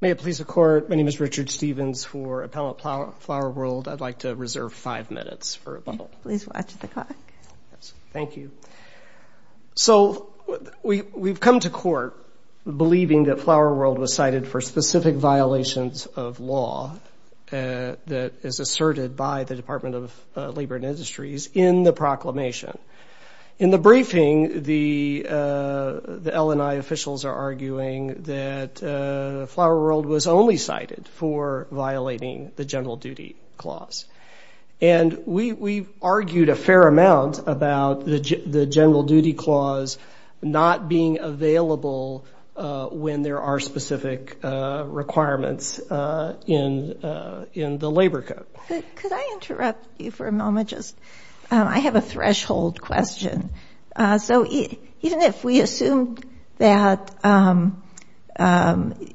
May it please the Court, my name is Richard Stevens for Appellate Flower World. I'd like to reserve five minutes for a bubble. Please watch the clock. Thank you. So we've come to court believing that Flower World was cited for specific violations of law that is asserted by the Department of Labor and Industries in the proclamation. In the briefing, the L&I officials are arguing that Flower World was only cited for violating the General Duty Clause. And we've argued a fair amount about the General Duty Clause not being available when there are specific requirements in the labor code. Could I interrupt you for a moment? I have a threshold question. So even if we assumed that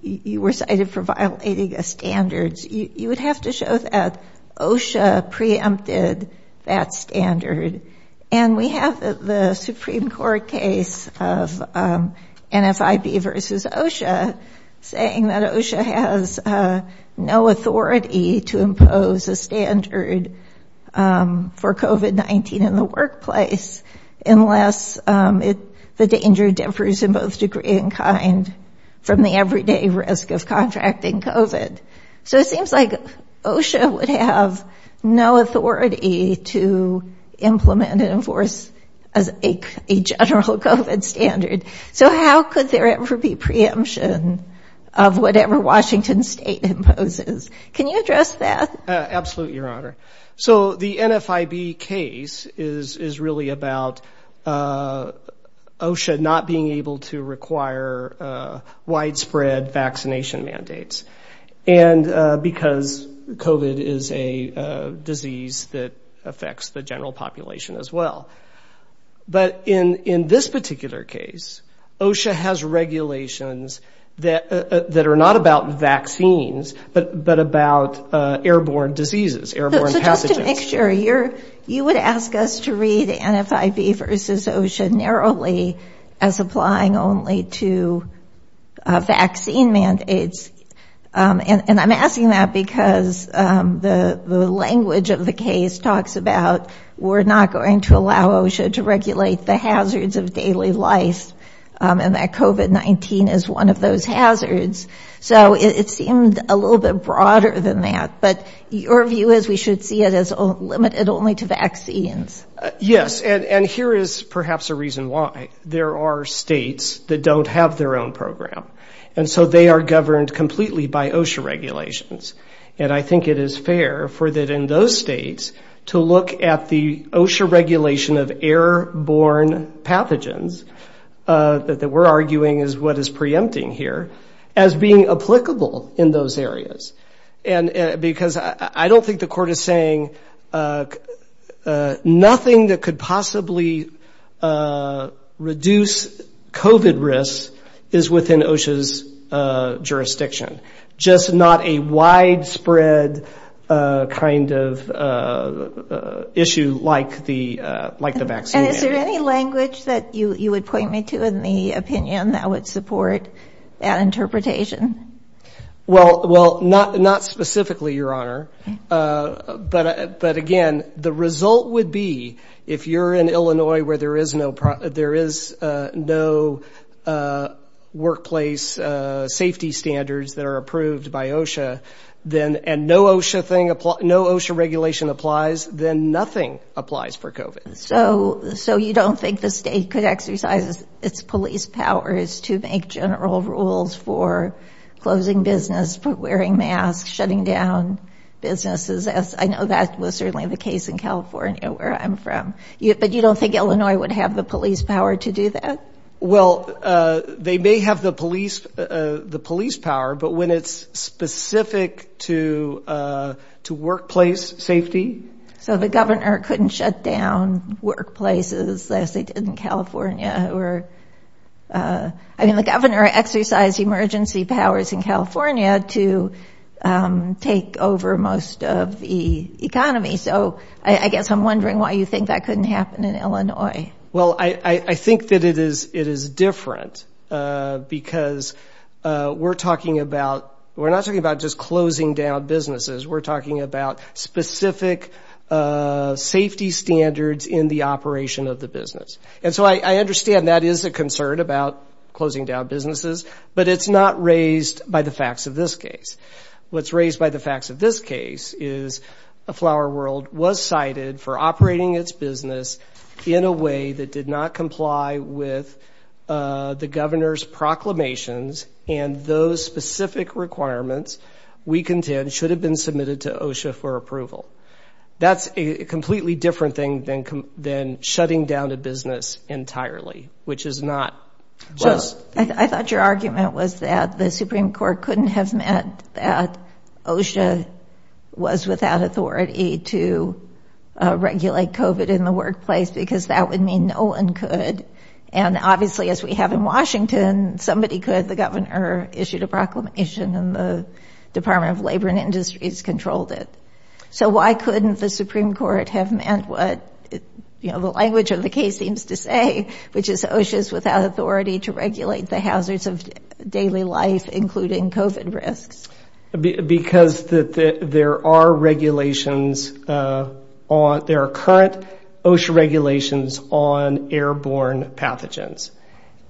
you were cited for violating a standard, you would have to show that OSHA preempted that standard. And we have the Supreme Court case of NFIB v. OSHA saying that OSHA has no authority to impose a standard for COVID-19 in the workplace unless the danger differs in both degree and kind from the everyday risk of contracting COVID. So it seems like OSHA would have no authority to implement and enforce a general COVID standard. So how could there ever be preemption of whatever Washington State imposes? Can you address that? Absolutely, Your Honor. So the NFIB case is really about OSHA not being able to require widespread vaccination mandates. And because COVID is a disease that affects the general population as well. But in this particular case, OSHA has regulations that are not about vaccines, but about airborne diseases, airborne pathogens. Just to make sure, you would ask us to read NFIB v. OSHA narrowly as applying only to vaccine mandates. And I'm asking that because the language of the case talks about we're not going to allow OSHA to regulate the hazards of daily life and that COVID-19 is one of those hazards. So it seemed a little bit broader than that. But your view is we should see it as limited only to vaccines. Yes. And here is perhaps a reason why there are states that don't have their own program. And so they are governed completely by OSHA regulations. And I think it is fair for that in those states to look at the OSHA regulation of airborne pathogens, that we're arguing is what is preempting here, as being applicable in those areas. And because I don't think the court is saying nothing that could possibly reduce COVID risks is within OSHA's jurisdiction. Just not a widespread kind of issue like the vaccine mandate. And is there any language that you would point me to in the opinion that would support that interpretation? Well, not specifically, Your Honor. But again, the result would be if you're in Illinois where there is no workplace safety standards, that are approved by OSHA, and no OSHA regulation applies, then nothing applies for COVID. So you don't think the state could exercise its police powers to make general rules for closing business, for wearing masks, shutting down businesses, as I know that was certainly the case in California where I'm from. But you don't think Illinois would have the police power to do that? Well, they may have the police power, but when it's specific to workplace safety. So the governor couldn't shut down workplaces as they did in California. I mean, the governor exercised emergency powers in California to take over most of the economy. So I guess I'm wondering why you think that couldn't happen in Illinois. Well, I think that it is different because we're talking about, we're not talking about just closing down businesses. We're talking about specific safety standards in the operation of the business. And so I understand that is a concern about closing down businesses. But it's not raised by the facts of this case. What's raised by the facts of this case is a flower world was cited for operating its business in a way that did not comply with the governor's proclamations. And those specific requirements, we contend, should have been submitted to OSHA for approval. That's a completely different thing than than shutting down a business entirely, which is not. I thought your argument was that the Supreme Court couldn't have meant that OSHA was without authority to regulate COVID in the workplace, because that would mean no one could. And obviously, as we have in Washington, somebody could, the governor issued a proclamation and the Department of Labor and Industries controlled it. So why couldn't the Supreme Court have meant what the language of the case seems to say, which is OSHA is without authority to regulate the hazards of daily life, including COVID risks? Because that there are regulations on their current OSHA regulations on airborne pathogens.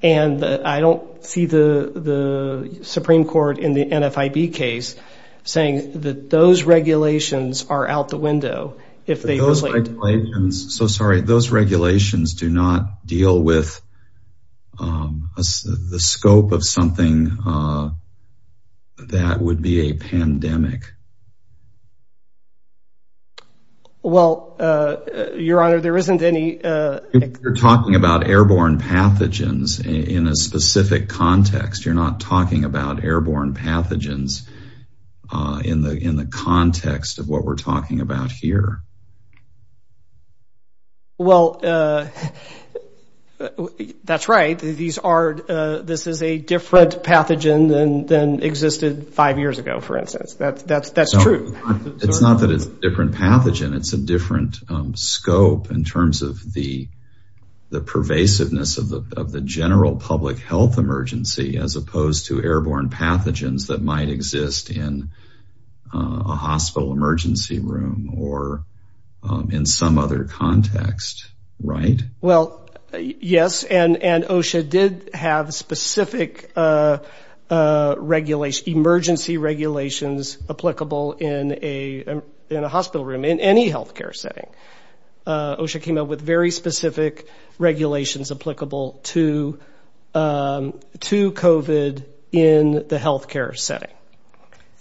And I don't see the Supreme Court in the NFIB case saying that those regulations are out the window. So sorry, those regulations do not deal with the scope of something that would be a pandemic. Well, Your Honor, there isn't any. You're talking about airborne pathogens in a specific context. You're not talking about airborne pathogens in the context of what we're talking about here. Well, that's right. This is a different pathogen than existed five years ago, for instance. That's true. It's not that it's a different pathogen. It's a different scope in terms of the pervasiveness of the general public health emergency, as opposed to airborne pathogens that might exist in a hospital emergency room or in some other context. Right? So this is a different pathogen than existed five years ago, for instance.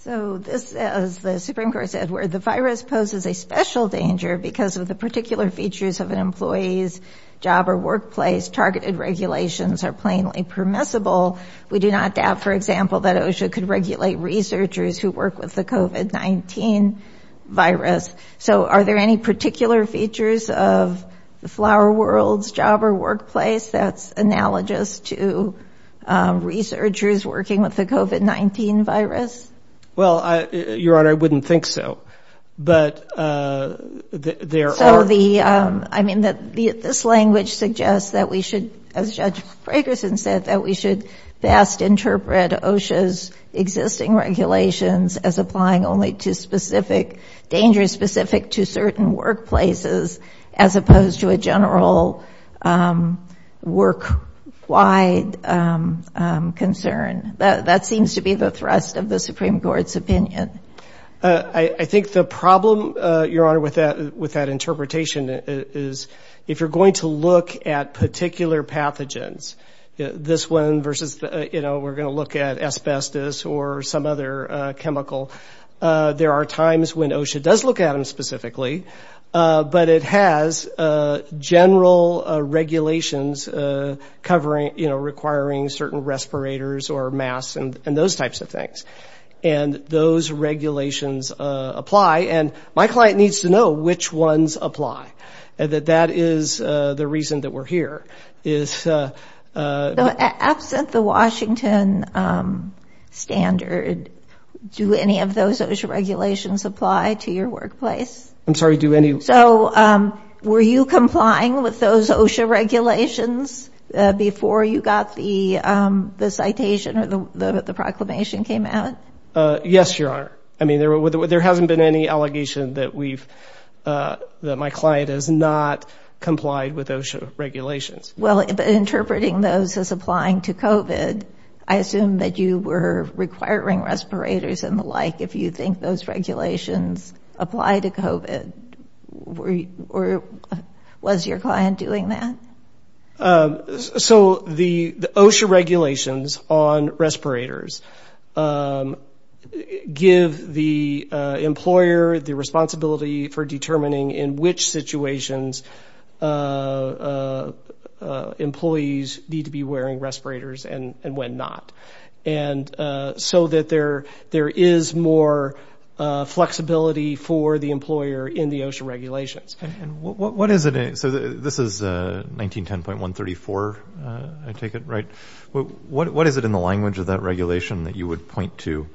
So this, as the Supreme Court said, where the virus poses a special danger because of the particular features of an employee's job or workplace, targeted regulations are plainly permissible. We do not doubt, for example, that OSHA could regulate researchers who work with the COVID-19 virus. Are there any particular features of the flower world's job or workplace that's analogous to researchers working with the COVID-19 virus? Well, Your Honor, I wouldn't think so. I mean, this language suggests that we should, as Judge Fragerson said, that we should best interpret OSHA's existing regulations as applying only to specific dangers, specific to services. And that's a very different approach to certain workplaces, as opposed to a general work-wide concern. That seems to be the thrust of the Supreme Court's opinion. I think the problem, Your Honor, with that interpretation is if you're going to look at particular pathogens, this one versus, you know, we're going to look at asbestos or some other chemical, there are times when OSHA does look at them specifically, and then they look at them in a different way. But it has general regulations covering, you know, requiring certain respirators or masks and those types of things. And those regulations apply, and my client needs to know which ones apply. That is the reason that we're here, is... Absent the Washington standard, do any of those OSHA regulations apply to your workplace? So were you complying with those OSHA regulations before you got the citation or the proclamation came out? Yes, Your Honor. I mean, there hasn't been any allegation that we've... that my client has not complied with OSHA regulations. Well, interpreting those as applying to COVID, I assume that you were requiring respirators and the like, if you think those regulations apply to COVID. Or was your client doing that? So the OSHA regulations on respirators give the employer the responsibility for determining in which situations employees need to be wearing respirators and when not. And so that there is more flexibility for the employer in the OSHA regulations. And what is it... so this is 1910.134, I take it, right? What is it in the language of that regulation that you would point to,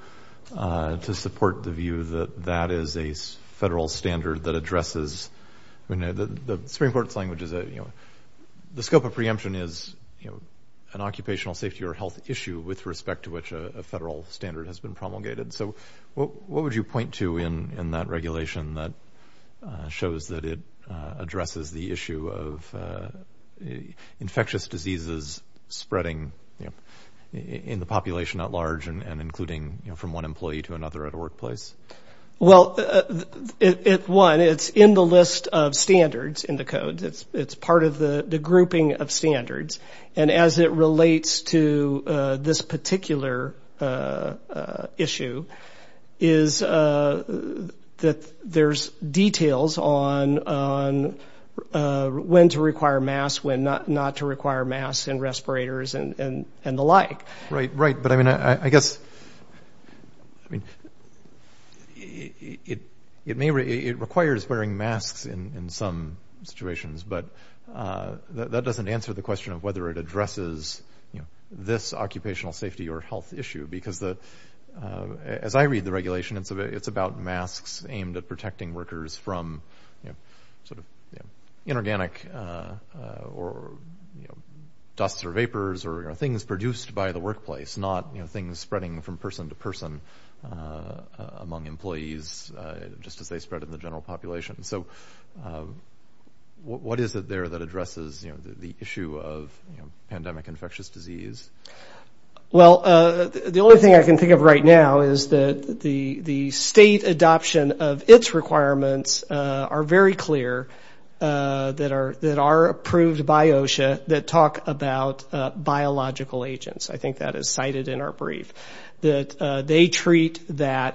to support the view that that is a federal standard that addresses... I mean, the Supreme Court's language is that, you know, the scope of preemption is, you know, an occupational safety or health issue, with respect to which a federal standard has been promulgated. So what would you point to in that regulation that shows that it addresses the issue of infectious diseases spreading in the population at large and including from one employee to another at a workplace? Well, one, it's in the list of standards in the code. It's part of the grouping of standards. And as it relates to this particular issue is that there's details on when to require masks, when not to require masks and respirators and the like. Right, right. But I mean, I guess, I mean, it may... it requires wearing masks in some situations. But that doesn't answer the question of whether it addresses this occupational safety or health issue. Because as I read the regulation, it's about masks aimed at protecting workers from sort of inorganic or dust or vapors or things produced by the workplace, not things spreading from person to person among employees, just as they spread in the general population. So what is it there that addresses the issue of pandemic infectious disease? Well, the only thing I can think of right now is that the state adoption of its requirements are very clear that are approved by OSHA that talk about biological agents. I think that is cited in our brief, that they treat the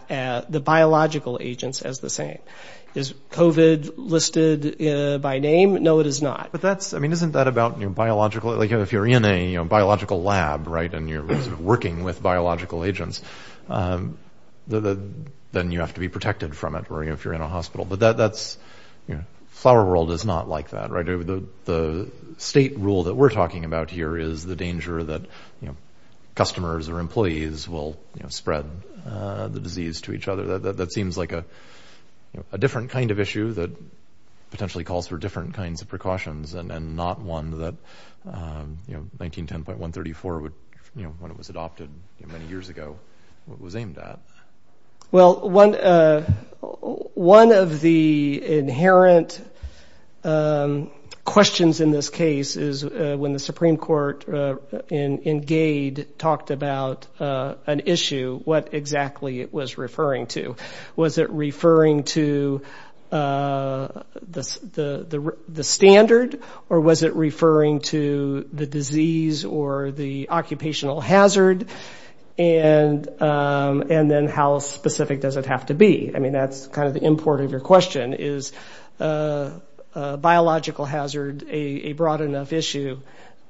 biological agents as the same. Is COVID listed by name? No, it is not. But that's I mean, isn't that about new biological? Like if you're in a biological lab, right, and you're working with biological agents, then you have to be protected from it. Or if you're in a hospital, but that's flower world is not like that, right? The state rule that we're talking about here is the danger that customers or employees will spread the disease to each other. That seems like a different kind of issue that potentially calls for different kinds of precautions and not one that, you know, 1910.134, you know, when it was adopted many years ago, it was aimed at. Well, one of the inherent questions in this case is when the Supreme Court in Gade talked about an issue, what exactly it was referring to. Was it referring to the standard or was it referring to the disease or the occupational hazard? And then how specific does it have to be? I mean, that's kind of the import of your question. Is a biological hazard a broad enough issue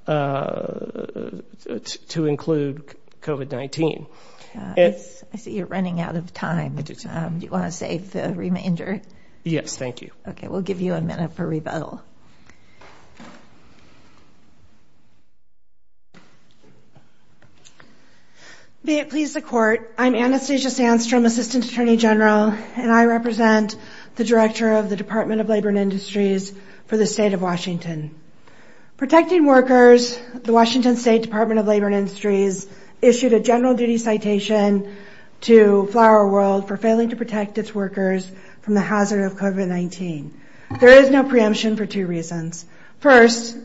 to include COVID-19? I see you're running out of time. Do you want to save the remainder? Yes, thank you. I'm Anastasia Sandstrom, assistant attorney general, and I represent the director of the Department of Labor and Industries for the state of Washington. Protecting workers, the Washington State Department of Labor and Industries issued a general duty citation to Flower World for failing to protect its workers from the hazard of COVID-19. There is no preemption for two reasons. First,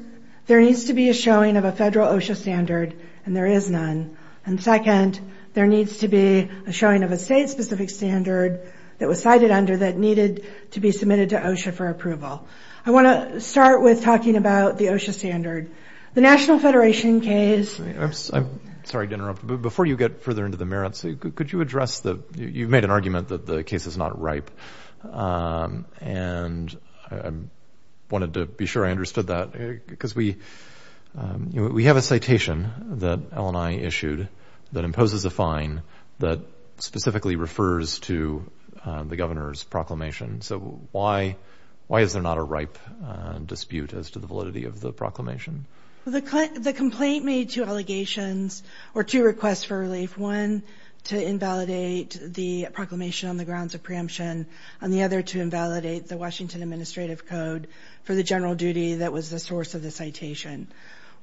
there needs to be a showing of a federal OSHA standard, and there is none. And second, there needs to be a showing of a state-specific standard that was cited under that needed to be submitted to OSHA for approval. I want to start with talking about the OSHA standard. The National Federation case... I'm sorry to interrupt, but before you get further into the merits, could you address the... You've made an argument that the case is not ripe, and I wanted to be sure I understood that. Because we have a citation that LNI issued that imposes a fine that specifically refers to the governor's proclamation. So why is there not a ripe dispute as to the validity of the proclamation? The complaint made two allegations, or two requests for relief. One, to invalidate the proclamation on the grounds of preemption, and the other to invalidate the Washington administrative code for the general duty that was the source of the claim.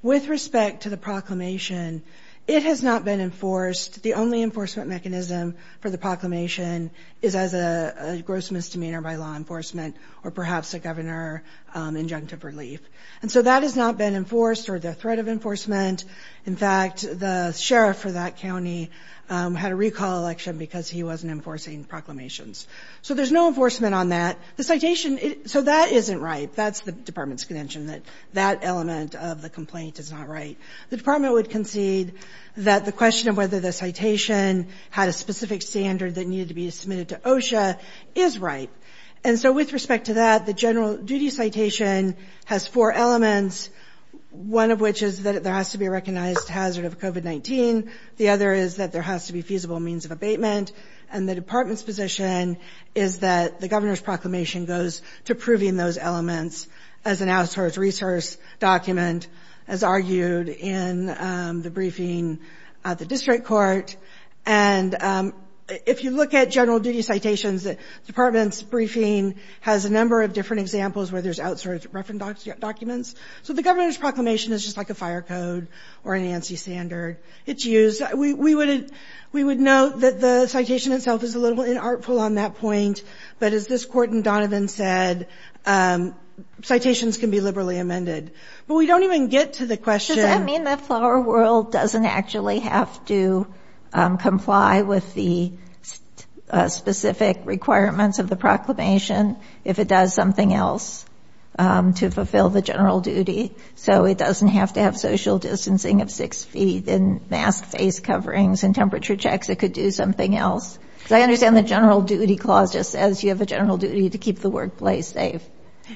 With respect to the proclamation, it has not been enforced. The only enforcement mechanism for the proclamation is as a gross misdemeanor by law enforcement, or perhaps a governor injunctive relief. And so that has not been enforced, or the threat of enforcement. In fact, the sheriff for that county had a recall election because he wasn't enforcing proclamations. So there's no enforcement on that. So that isn't ripe. That's the department's contention, that that element of the complaint is not ripe. The department would concede that the question of whether the citation had a specific standard that needed to be submitted to OSHA is ripe. And so with respect to that, the general duty citation has four elements, one of which is that there has to be a recognized hazard of COVID-19. The other is that there has to be feasible means of abatement. And the department's position is that the governor's proclamation goes to proving those elements as an outsourced resource document, as argued in the briefing at the district court. And if you look at general duty citations, the department's briefing has a number of different examples where there's outsourced reference documents. So the governor's proclamation is just like a fire code or an ANSI standard. We would note that the citation itself is a little inartful on that point. But as this court in Donovan said, citations can be liberally amended. But we don't even get to the question— Does that mean that Flower World doesn't actually have to comply with the specific requirements of the proclamation if it does something else to fulfill the general duty requirements? So it doesn't have to have social distancing of six feet and mask face coverings and temperature checks? It could do something else? Because I understand the general duty clause just says you have a general duty to keep the workplace safe.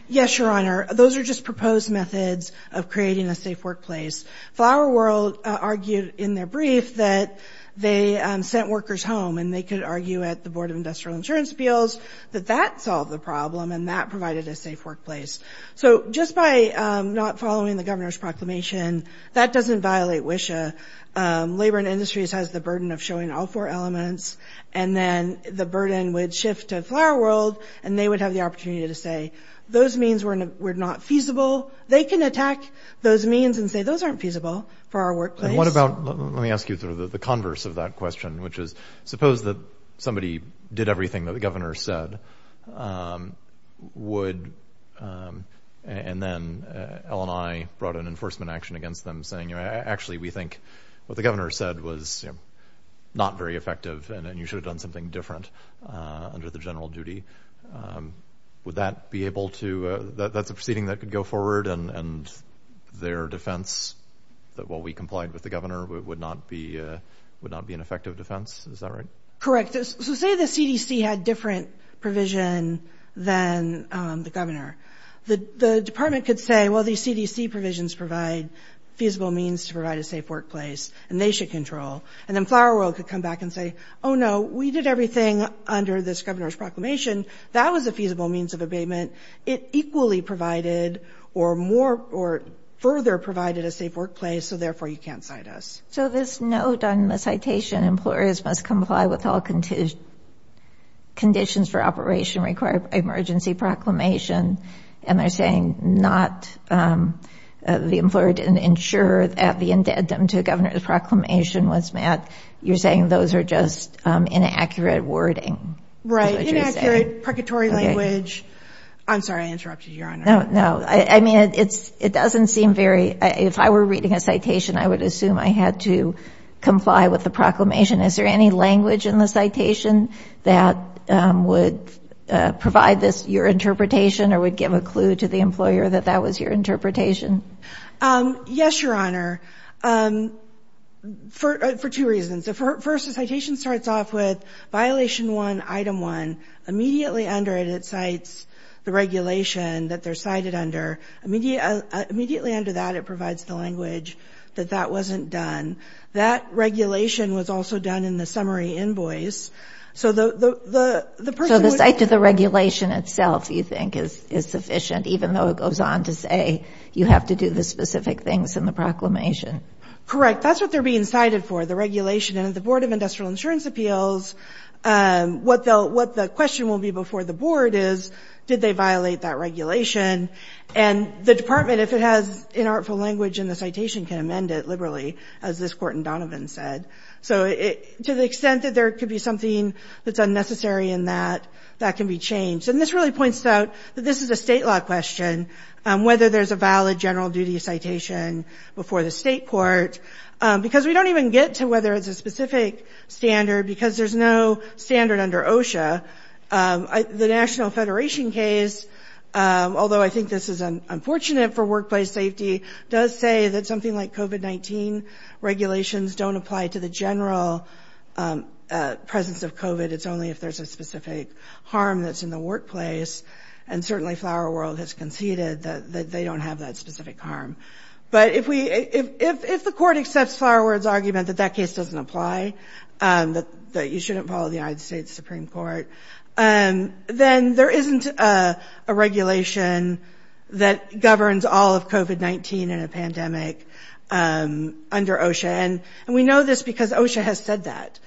Yes, Your Honor. Those are just proposed methods of creating a safe workplace. Flower World argued in their brief that they sent workers home, and they could argue at the Board of Industrial Insurance Appeals that that solved the problem and that provided a safe workplace. So just by not following the governor's proclamation, that doesn't violate WISHA. Labor and Industries has the burden of showing all four elements, and then the burden would shift to Flower World, and they would have the opportunity to say, those means were not feasible. They can attack those means and say, those aren't feasible for our workplace. And what about, let me ask you sort of the converse of that question, which is, suppose that somebody did everything that the governor said, and then LNI brought an enforcement action against them saying, actually, we think what the governor said was not very effective, and you should have done something different under the general duty. Would that be able to, that's a proceeding that could go forward, and their defense that what we complied with was not feasible? If the governor would not be an effective defense, is that right? Correct. So say the CDC had different provision than the governor. The department could say, well, these CDC provisions provide feasible means to provide a safe workplace, and they should control. And then Flower World could come back and say, oh, no, we did everything under this governor's proclamation. That was a feasible means of abatement. It equally provided, or more, or further provided a safe workplace, so therefore you can't cite us. So this note on the citation, employers must comply with all conditions for operation required by emergency proclamation. And they're saying not, the employer didn't ensure that the indentum to a governor's proclamation was met. You're saying those are just inaccurate wording. Right, inaccurate, purgatory language. I'm sorry, I interrupted you, Your Honor. No, no. I mean, it doesn't seem very, if I were reading a citation, I would assume I had to comply with the proclamation. Is there any language in the citation that would provide this, your interpretation, or would give a clue to the employer that that was your interpretation? Yes, Your Honor, for two reasons. First, the citation starts off with violation one, item one. Immediately under it, it cites the regulation that they're cited under. Immediately under that, it provides the language that that wasn't done. That regulation was also done in the summary invoice, so the person would... So the cite to the regulation itself, you think, is sufficient, even though it goes on to say you have to do the specific things in the proclamation. Correct. That's what they're being cited for, the regulation. And at the Board of Industrial Insurance Appeals, what the question will be before the Board is, did they violate that regulation? And the Department, if it has inartful language in the citation, can amend it liberally, as this Court in Donovan said. So to the extent that there could be something that's unnecessary in that, that can be changed. And this really points out that this is a state law question. Whether there's a valid general duty citation before the state court. Because we don't even get to whether it's a specific standard, because there's no standard under OSHA. The National Federation case, although I think this is unfortunate for workplace safety, does say that something like COVID-19 regulations don't apply to the general presence of COVID. It's only if there's a specific harm that's in the workplace. And certainly Flower World has conceded that they don't have that specific harm. But if the Court accepts Flower World's argument that that case doesn't apply, that you shouldn't follow the United States Supreme Court, then there isn't a regulation that governs all of COVID-19 in a pandemic under OSHA. And we know this because OSHA has said that.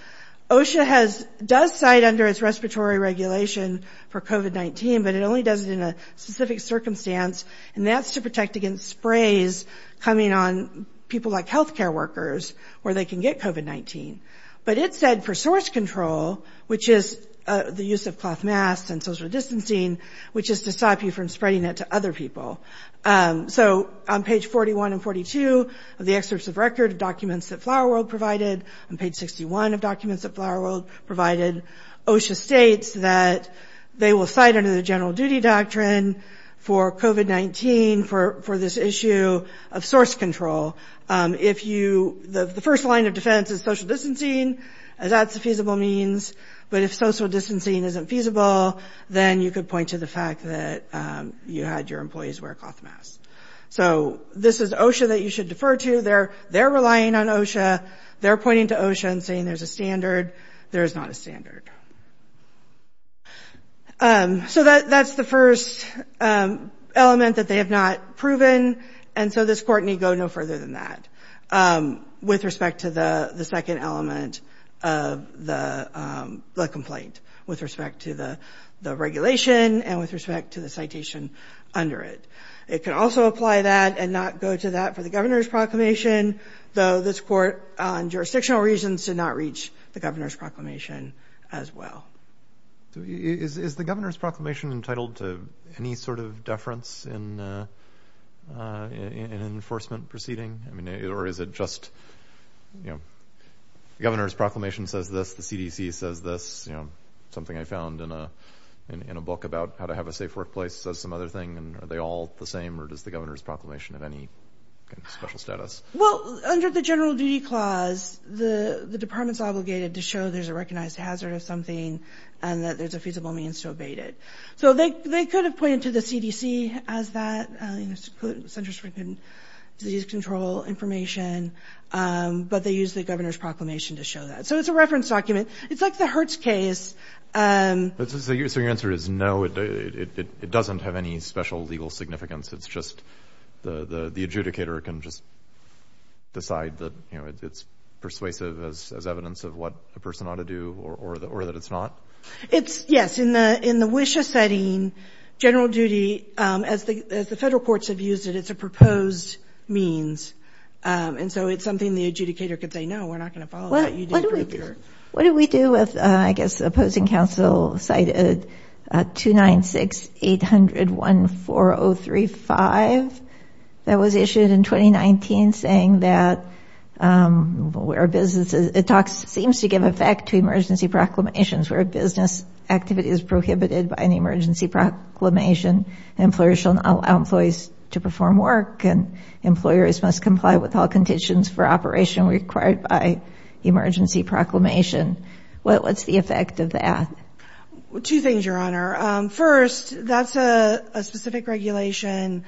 OSHA does cite under its respiratory regulation for COVID-19, but it only does it in a specific circumstance. And that's to protect against sprays coming on people like healthcare workers where they can get COVID-19. But it said for source control, which is the use of cloth masks and social distancing, which is to stop you from spreading it to other people. So on page 41 and 42 of the excerpts of record of documents that Flower World provided, and page 61 of documents that Flower World provided, OSHA states that they will cite under the general duty doctrine for COVID-19 for this issue of source control. The first line of defense is social distancing, as that's a feasible means. But if social distancing isn't feasible, then you could point to the fact that you had your employees wear cloth masks. So this is OSHA that you should defer to. They're relying on OSHA. They're pointing to OSHA and saying there's a standard. There is not a standard. So that's the first element that they have not proven. And so this court need go no further than that with respect to the second element of the complaint with respect to the regulation and with respect to the citation under it. It can also apply that and not go to that for the governor's proclamation, though this court on jurisdictional reasons did not reach the governor's proclamation as well. Is the governor's proclamation entitled to any sort of deference in an enforcement proceeding? The governor's proclamation says this. The CDC says this. Something I found in a book about how to have a safe workplace says some other thing. Are they all the same, or does the governor's proclamation have any special status? Well, under the general duty clause, the department's obligated to show there's a recognized hazard of something and that there's a feasible means to abate it. So they could have pointed to the CDC as that, Centers for Disease Control Information, but they use the governor's proclamation to show that. So it's a reference document. It's like the Hertz case. So your answer is no, it doesn't have any special legal significance. It's just the adjudicator can just decide that it's persuasive as evidence of what a person ought to do or that it's not? Yes. In the WISHA setting, general duty, as the federal courts have used it, it's a proposed means. And so it's something the adjudicator could say, no, we're not going to follow that. What do we do with, I guess, the opposing counsel cited 296-800-14035 that was issued in 2019 saying that where businesses, it seems to give effect to emergency proclamations where a business activity is prohibited by an emergency proclamation. Employers shall not allow employees to perform work and employers must comply with all conditions for operation required by emergency proclamations. What's the effect of that? Two things, Your Honor. First, that's a specific regulation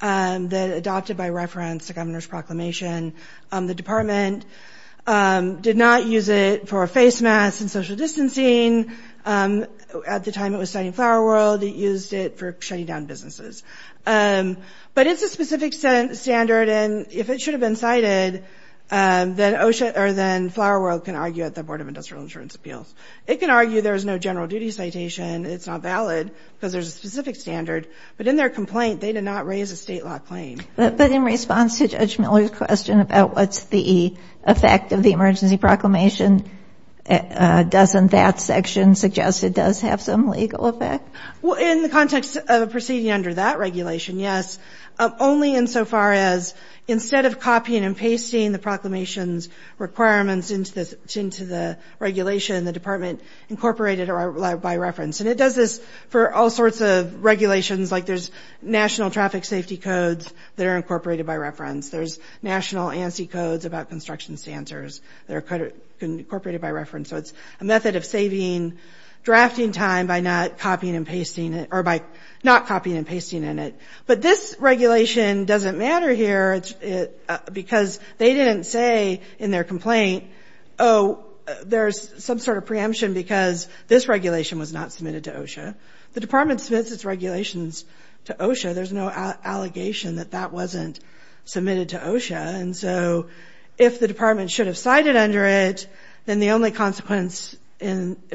that adopted by reference to governor's proclamation. The department did not use it for face masks and social distancing. At the time it was citing Flower World, it used it for shutting down businesses. But it's a specific standard, and if it should have been cited, then Flower World could have used it. And Flower World can argue at the Board of Industrial Insurance Appeals. It can argue there's no general duty citation, it's not valid, because there's a specific standard. But in their complaint, they did not raise a state law claim. But in response to Judge Miller's question about what's the effect of the emergency proclamation, doesn't that section suggest it does have some legal effect? Well, in the context of proceeding under that regulation, yes. Only insofar as instead of copying and pasting the proclamation's requirements into the regulation, the department incorporated it by reference. And it does this for all sorts of regulations, like there's national traffic safety codes that are incorporated by reference. There's national ANSI codes about construction stancers that are incorporated by reference. So it's a method of saving drafting time by not copying and pasting in it. But this regulation doesn't matter here, because they didn't say in their complaint, oh, there's some sort of preemption because this regulation was not submitted to OSHA. The department submits its regulations to OSHA. There's no allegation that that wasn't submitted to OSHA. And so if the department should have cited under it, then the only consequence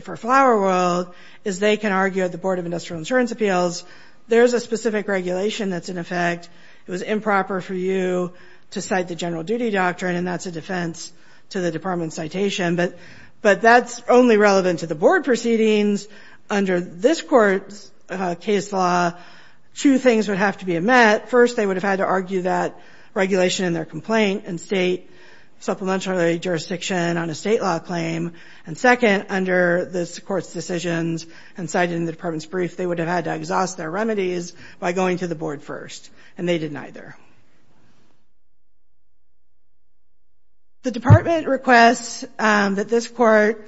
for Flower World is they can argue at the Board of Industrial Insurance Appeals, there's a specific regulation that's in effect. It was improper for you to cite the general duty doctrine, and that's a defense to the department's citation. But that's only relevant to the board proceedings. Under this court's case law, two things would have to be met. First, they would have had to argue that regulation in their complaint and state supplementary jurisdiction on a state law claim. And second, under this court's decisions and cited in the department's brief, they would have had to exhaust their remedies by going to the board first. And they did neither. The department requests that this court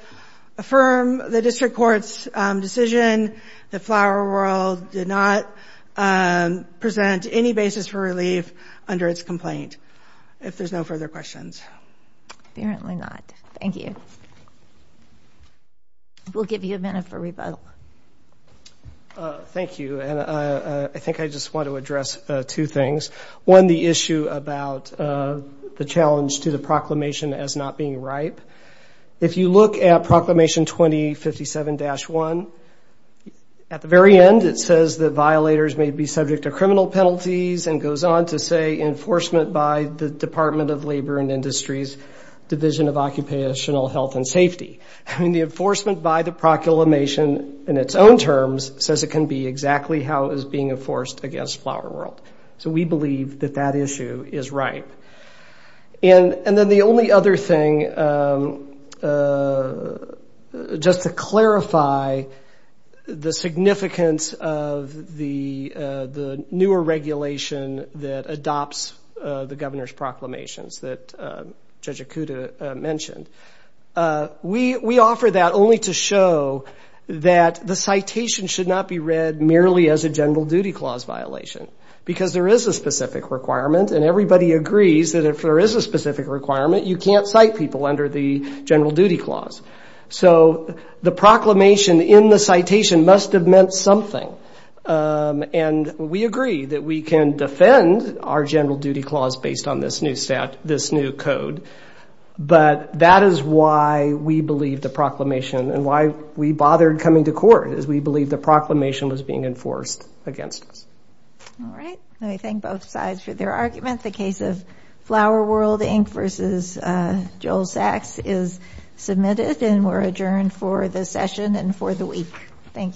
affirm the district court's decision that Flower World did not present any basis for relief under its complaint, if there's no further questions. Thank you. We'll give you a minute for rebuttal. Thank you, and I think I just want to address two things. One, the issue about the challenge to the proclamation as not being ripe. If you look at Proclamation 2057-1, at the very end it says that violators may be subject to criminal penalties and goes on to say enforcement by the Department of Labor and Industries, Division of Occupational Health and Safety. I mean, the enforcement by the proclamation in its own terms says it can be exactly how it was being enforced against Flower World. So we believe that that issue is ripe. Just to clarify the significance of the newer regulation that adopts the governor's proclamations that Judge Okuda mentioned, we offer that only to show that the citation should not be read merely as a general duty clause violation. Because there is a specific requirement, and everybody agrees that if there is a specific requirement, you can't cite people under the general duty clause. So the proclamation in the citation must have meant something. And we agree that we can defend our general duty clause based on this new stat, this new code. But that is why we believe the proclamation, and why we bothered coming to court, is we believe the proclamation was being enforced against us. All right. Let me thank both sides for their argument. The case of Flower World, Inc. v. Joel Sachs is submitted, and we're adjourned for the session and for the week. Thank you.